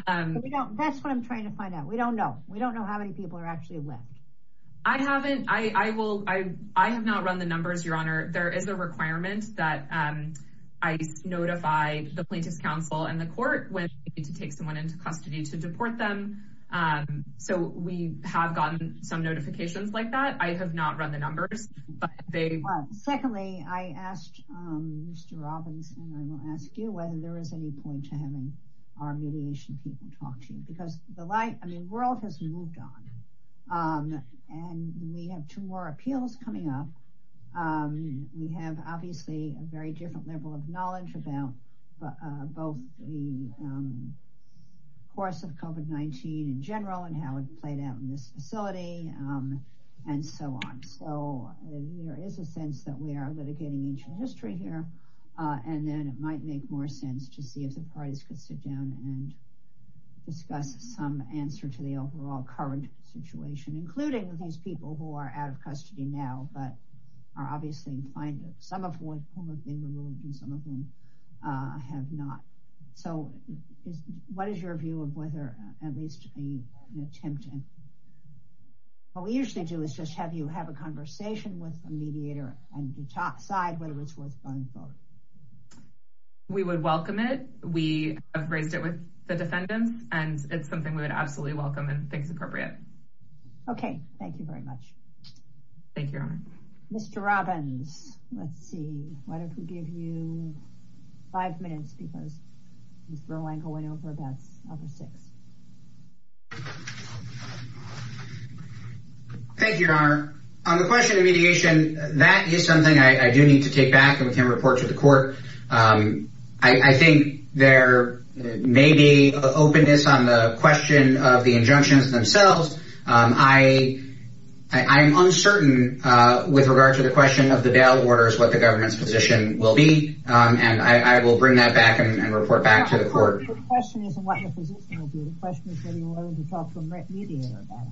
That's what I'm trying to find out. We don't know. We don't know how many people are actually left. I haven't, I will, I have not run the numbers, Your Honor. There is a requirement that I notify the plaintiff's counsel and the court when we need to custody to deport them. So we have gotten some notifications like that. I have not run the numbers, but they. Secondly, I asked Mr. Robbins and I will ask you whether there is any point to having our mediation people talk to you because the light, I mean, world has moved on and we have two more appeals coming up. We have obviously a very different level of knowledge about both the course of COVID-19 in general and how it played out in this facility and so on. So there is a sense that we are litigating ancient history here and then it might make more sense to see if the parties could sit down and discuss some answer to the overall current situation, including these people who are out of custody now. But are obviously finding some of whom have been removed and some of whom have not. So what is your view of whether at least an attempt and what we usually do is just have you have a conversation with a mediator on the top side, whether it's worth running for. We would welcome it. We have raised it with the defendants and it's something we would absolutely welcome and think is appropriate. Okay. Thank you very much. Thank you, Your Honor. Mr. Robbins, let's see. Why don't we give you five minutes because Ms. Berlanko went over, that's up to six. Thank you, Your Honor. On the question of mediation, that is something I do need to take back and we can report to the court. I think there may be openness on the question of the injunctions themselves. I am uncertain with regard to the question of the bail orders, what the government's position will be. And I will bring that back and report back to the court. The question isn't what the position will be. The question is whether you're willing to talk to a mediator about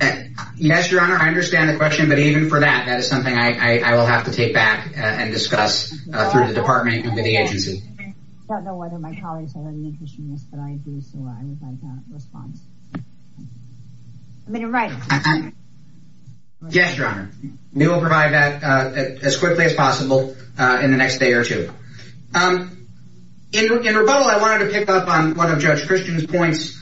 it. Yes, Your Honor. I understand the question. But even for that, that is something I will have to take back and discuss through the department and with the agency. I don't know whether my colleagues have any interest in this, but I do. Response. Yes, Your Honor. We will provide that as quickly as possible in the next day or two. In rebuttal, I wanted to pick up on one of Judge Christian's points,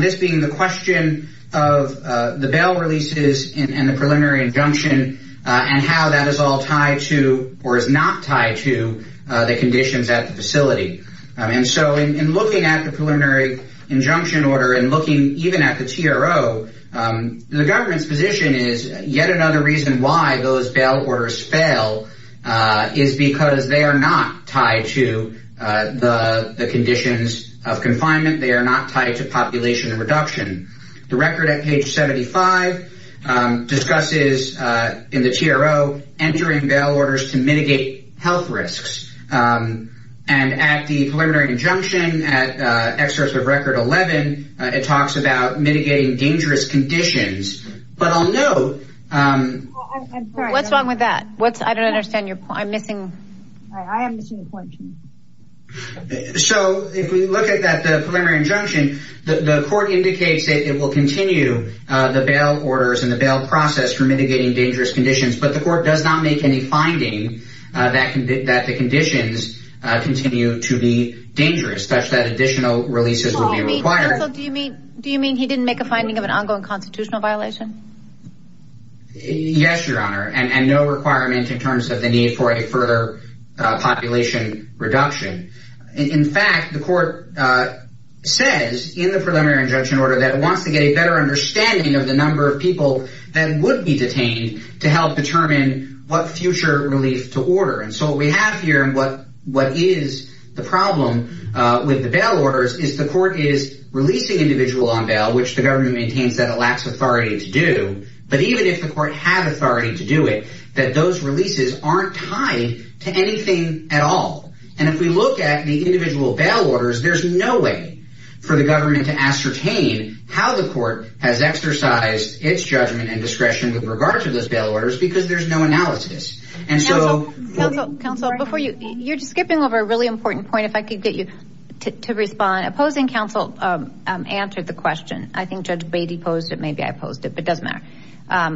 this being the question of the bail releases and the preliminary injunction and how that is all tied to or is not tied to the conditions at the facility. And so in looking at the preliminary injunction order and looking even at the TRO, the government's position is yet another reason why those bail orders fail is because they are not tied to the conditions of confinement. They are not tied to population reduction. The record at page 75 discusses in the TRO entering bail orders to mitigate health risks. And at the preliminary injunction, at excerpts of record 11, it talks about mitigating dangerous conditions. But I'll note. What's wrong with that? What's I don't understand. You're missing. I am missing the point. So if we look at that, the preliminary injunction, the court indicates that it will continue the bail orders and the bail process for mitigating dangerous conditions. But the court does not make any finding that that the conditions continue to be dangerous, such that additional releases will be required. Do you mean he didn't make a finding of an ongoing constitutional violation? Yes, Your Honor, and no requirement in terms of the need for a further population reduction. In fact, the court says in the preliminary injunction order that it wants to get a better understanding of the number of people that would be detained to help determine what future relief to order. And so what we have here and what what is the problem with the bail orders is the court is releasing individual on bail, which the government maintains that it lacks authority to do. But even if the court had authority to do it, that those releases aren't tied to anything at all. And if we look at the individual bail orders, there's no way for the government to ascertain how the court has exercised its judgment and discretion with regard to those bail orders, because there's no analysis. And so counsel before you, you're skipping over a really important point, if I could get you to respond. Opposing counsel answered the question. I think Judge Beatty posed it. Maybe I posed it, but doesn't matter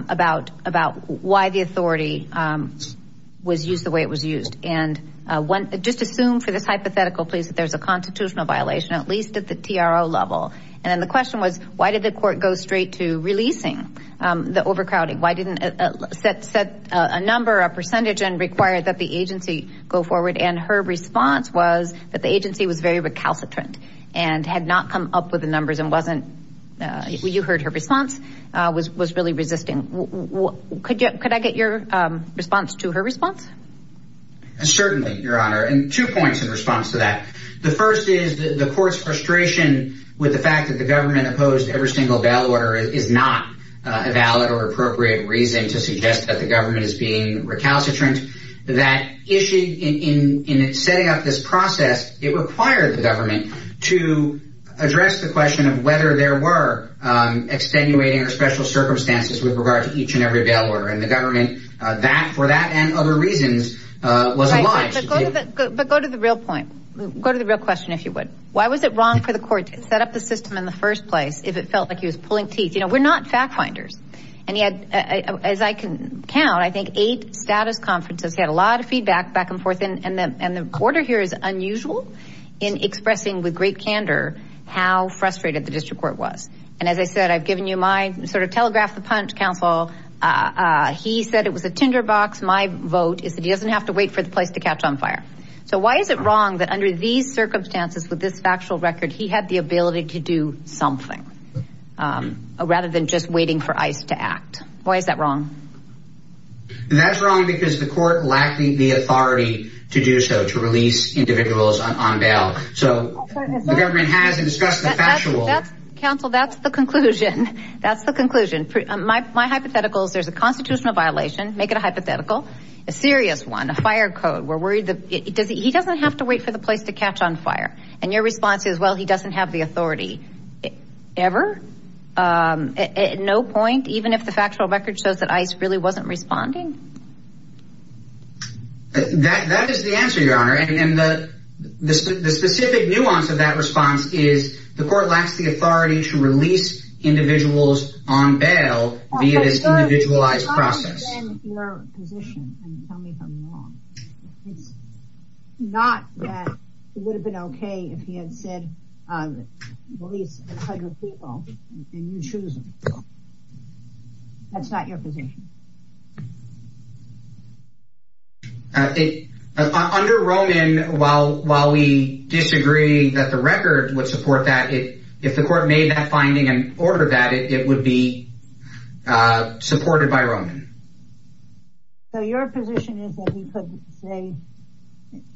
about about why the authority was used the way it was used. And just assume for this hypothetical, please, that there's a constitutional violation, at least at the TRO level. And then the question was, why did the court go straight to releasing the overcrowding? Why didn't set set a number, a percentage and require that the agency go forward? And her response was that the agency was very recalcitrant and had not come up with the numbers and wasn't. You heard her response was was really resisting. Could you could I get your response to her response? Certainly, Your Honor. And two points in response to that. The first is the court's frustration with the fact that the government opposed every single bail order is not a valid or appropriate reason to suggest that the government is being recalcitrant. That issue in setting up this process, it required the government to address the question of whether there were extenuating or special circumstances with regard to each and every bail order in the government. That for that and other reasons was. But go to the real point. Go to the real question, if you would. Why was it wrong for the court to set up the system in the first place if it felt like he was pulling teeth? You know, we're not fact finders. And he had, as I can count, I think eight status conferences, had a lot of feedback back and forth. And the order here is unusual in expressing with great candor how frustrated the district court was. And as I said, I've given you my sort of telegraph, the punch counsel. He said it was a tinderbox. My vote is that he doesn't have to wait for the place to catch on fire. So why is it wrong that under these circumstances with this factual record, he had the ability to do something rather than just waiting for ice to act? Why is that wrong? That's wrong because the court lacked the authority to do so to release individuals on bail. So the government has discussed the factual counsel. That's the conclusion. That's the conclusion. My hypotheticals. There's a constitutional violation. Make it a hypothetical, a serious one, a fire code. We're worried that he doesn't have to wait for the place to catch on fire. And your response is, well, he doesn't have the authority ever, at no point, even if the factual record shows that ice really wasn't responding. That is the answer, Your Honor. And the specific nuance of that response is the court lacks the authority to release individuals on bail via this individualized process. Your position, and tell me if I'm wrong, it's not that it would have been OK if he had said release 100 people and you choose them. That's not your position. Under Roman, while we disagree that the record would support that, if the court made that finding and ordered that, it would be supported by Roman. So your position is that he could say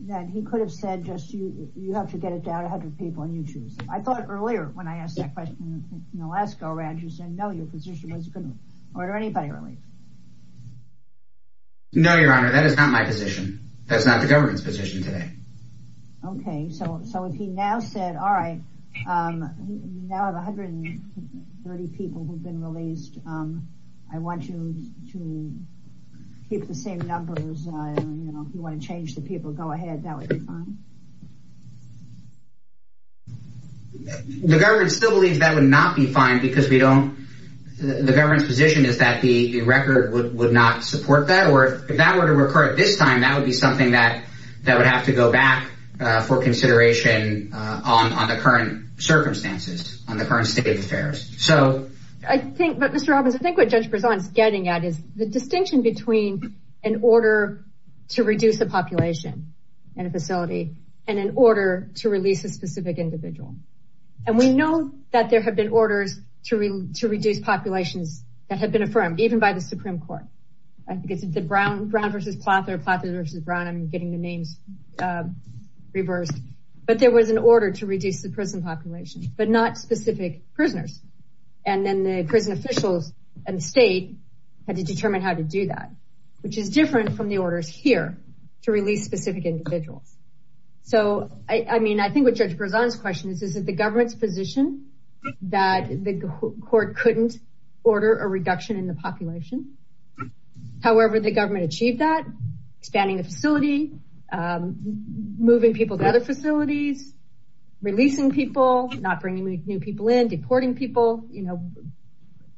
that he could have said, just you have to get it down to 100 people and you choose. I thought earlier when I asked that question in Alaska, you said, no, your position was going to order anybody released. No, Your Honor, that is not my position. That's not the government's position today. OK, so if he now said, all right, you now have 130 people who've been released. I want you to keep the same numbers, you know, if you want to change the people, go ahead. That would be fine. The government still believes that would not be fine because we don't, the government's position is that the record would not support that. Or if that were to recur at this time, that would be something that would have to go back for consideration on the current circumstances, on the current state affairs. So I think, Mr. Robbins, I think what Judge Berzon is getting at is the distinction between an order to reduce the population in a facility and an order to release a specific individual. And we know that there have been orders to reduce populations that have been affirmed even by the Supreme Court. I think it's the Brown versus Plather, Plather versus Brown, I'm getting the names reversed. But there was an order to reduce the prison population, but not specific prisoners. And then the prison officials and the state had to determine how to do that, which is different from the orders here to release specific individuals. So, I mean, I think what Judge Berzon's question is, is that the government's position that the court couldn't order a reduction in the population. However, the government achieved that, expanding the facility, moving people to other facilities, releasing people, not bringing new people in, deporting people.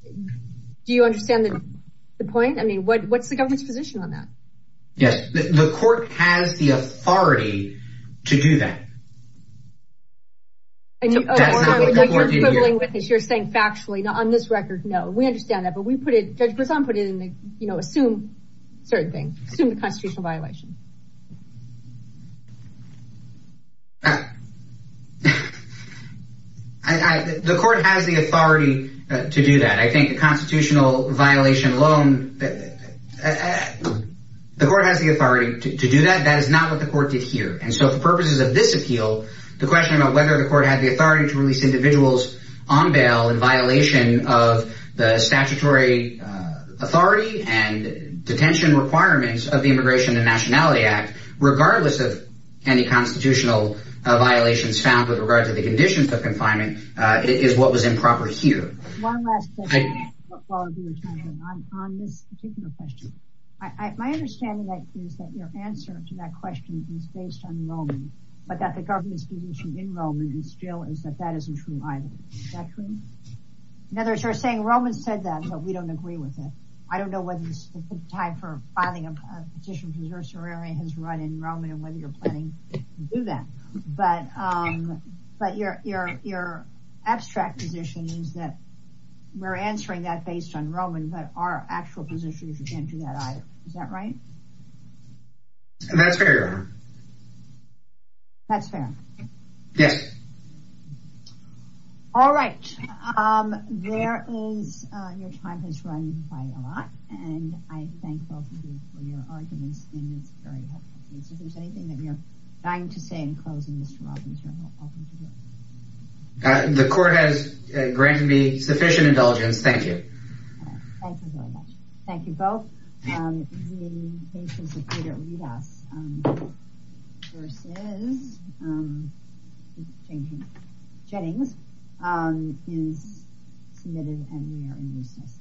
Do you understand the point? I mean, what's the government's position on that? Yes, the court has the authority to do that. And you're quibbling with this, you're saying factually, on this record, no, we understand that. But we put it, Judge Berzon put it in the, you know, assume certain things, assume the constitutional violation. I, the court has the authority to do that. I think the constitutional violation alone, the court has the authority to do that. That is not what the court did here. And so for purposes of this appeal, the question about whether the court had the authority to release individuals on bail in violation of the statutory authority and detention requirements of the Immigration and Nationality Act, regardless of any constitutional violations found with regard to the conditions of confinement, is what was improper here. One last question, on this particular question. My understanding is that your answer to that question is based on Roman, but that the government's position in Roman still is that that isn't true either. Is that true? In other words, you're saying Roman said that, but we don't agree with it. I don't know whether it's time for filing a petition because your surrender has run in Roman and whether you're planning to do that. But your abstract position is that we're answering that based on Roman, but our actual position is you can't do that either. Is that right? That's fair. That's fair. Yes. All right. There is, your time has run by a lot and I thank both of you for your arguments in this very helpful case. If there's anything that you're dying to say in closing, Mr. Robbins, you're welcome to do it. The court has granted me sufficient indulgence. Thank you. Thank you very much. Thank you both. The basis of Peter Rivas versus Jennings is submitted and we are in recess.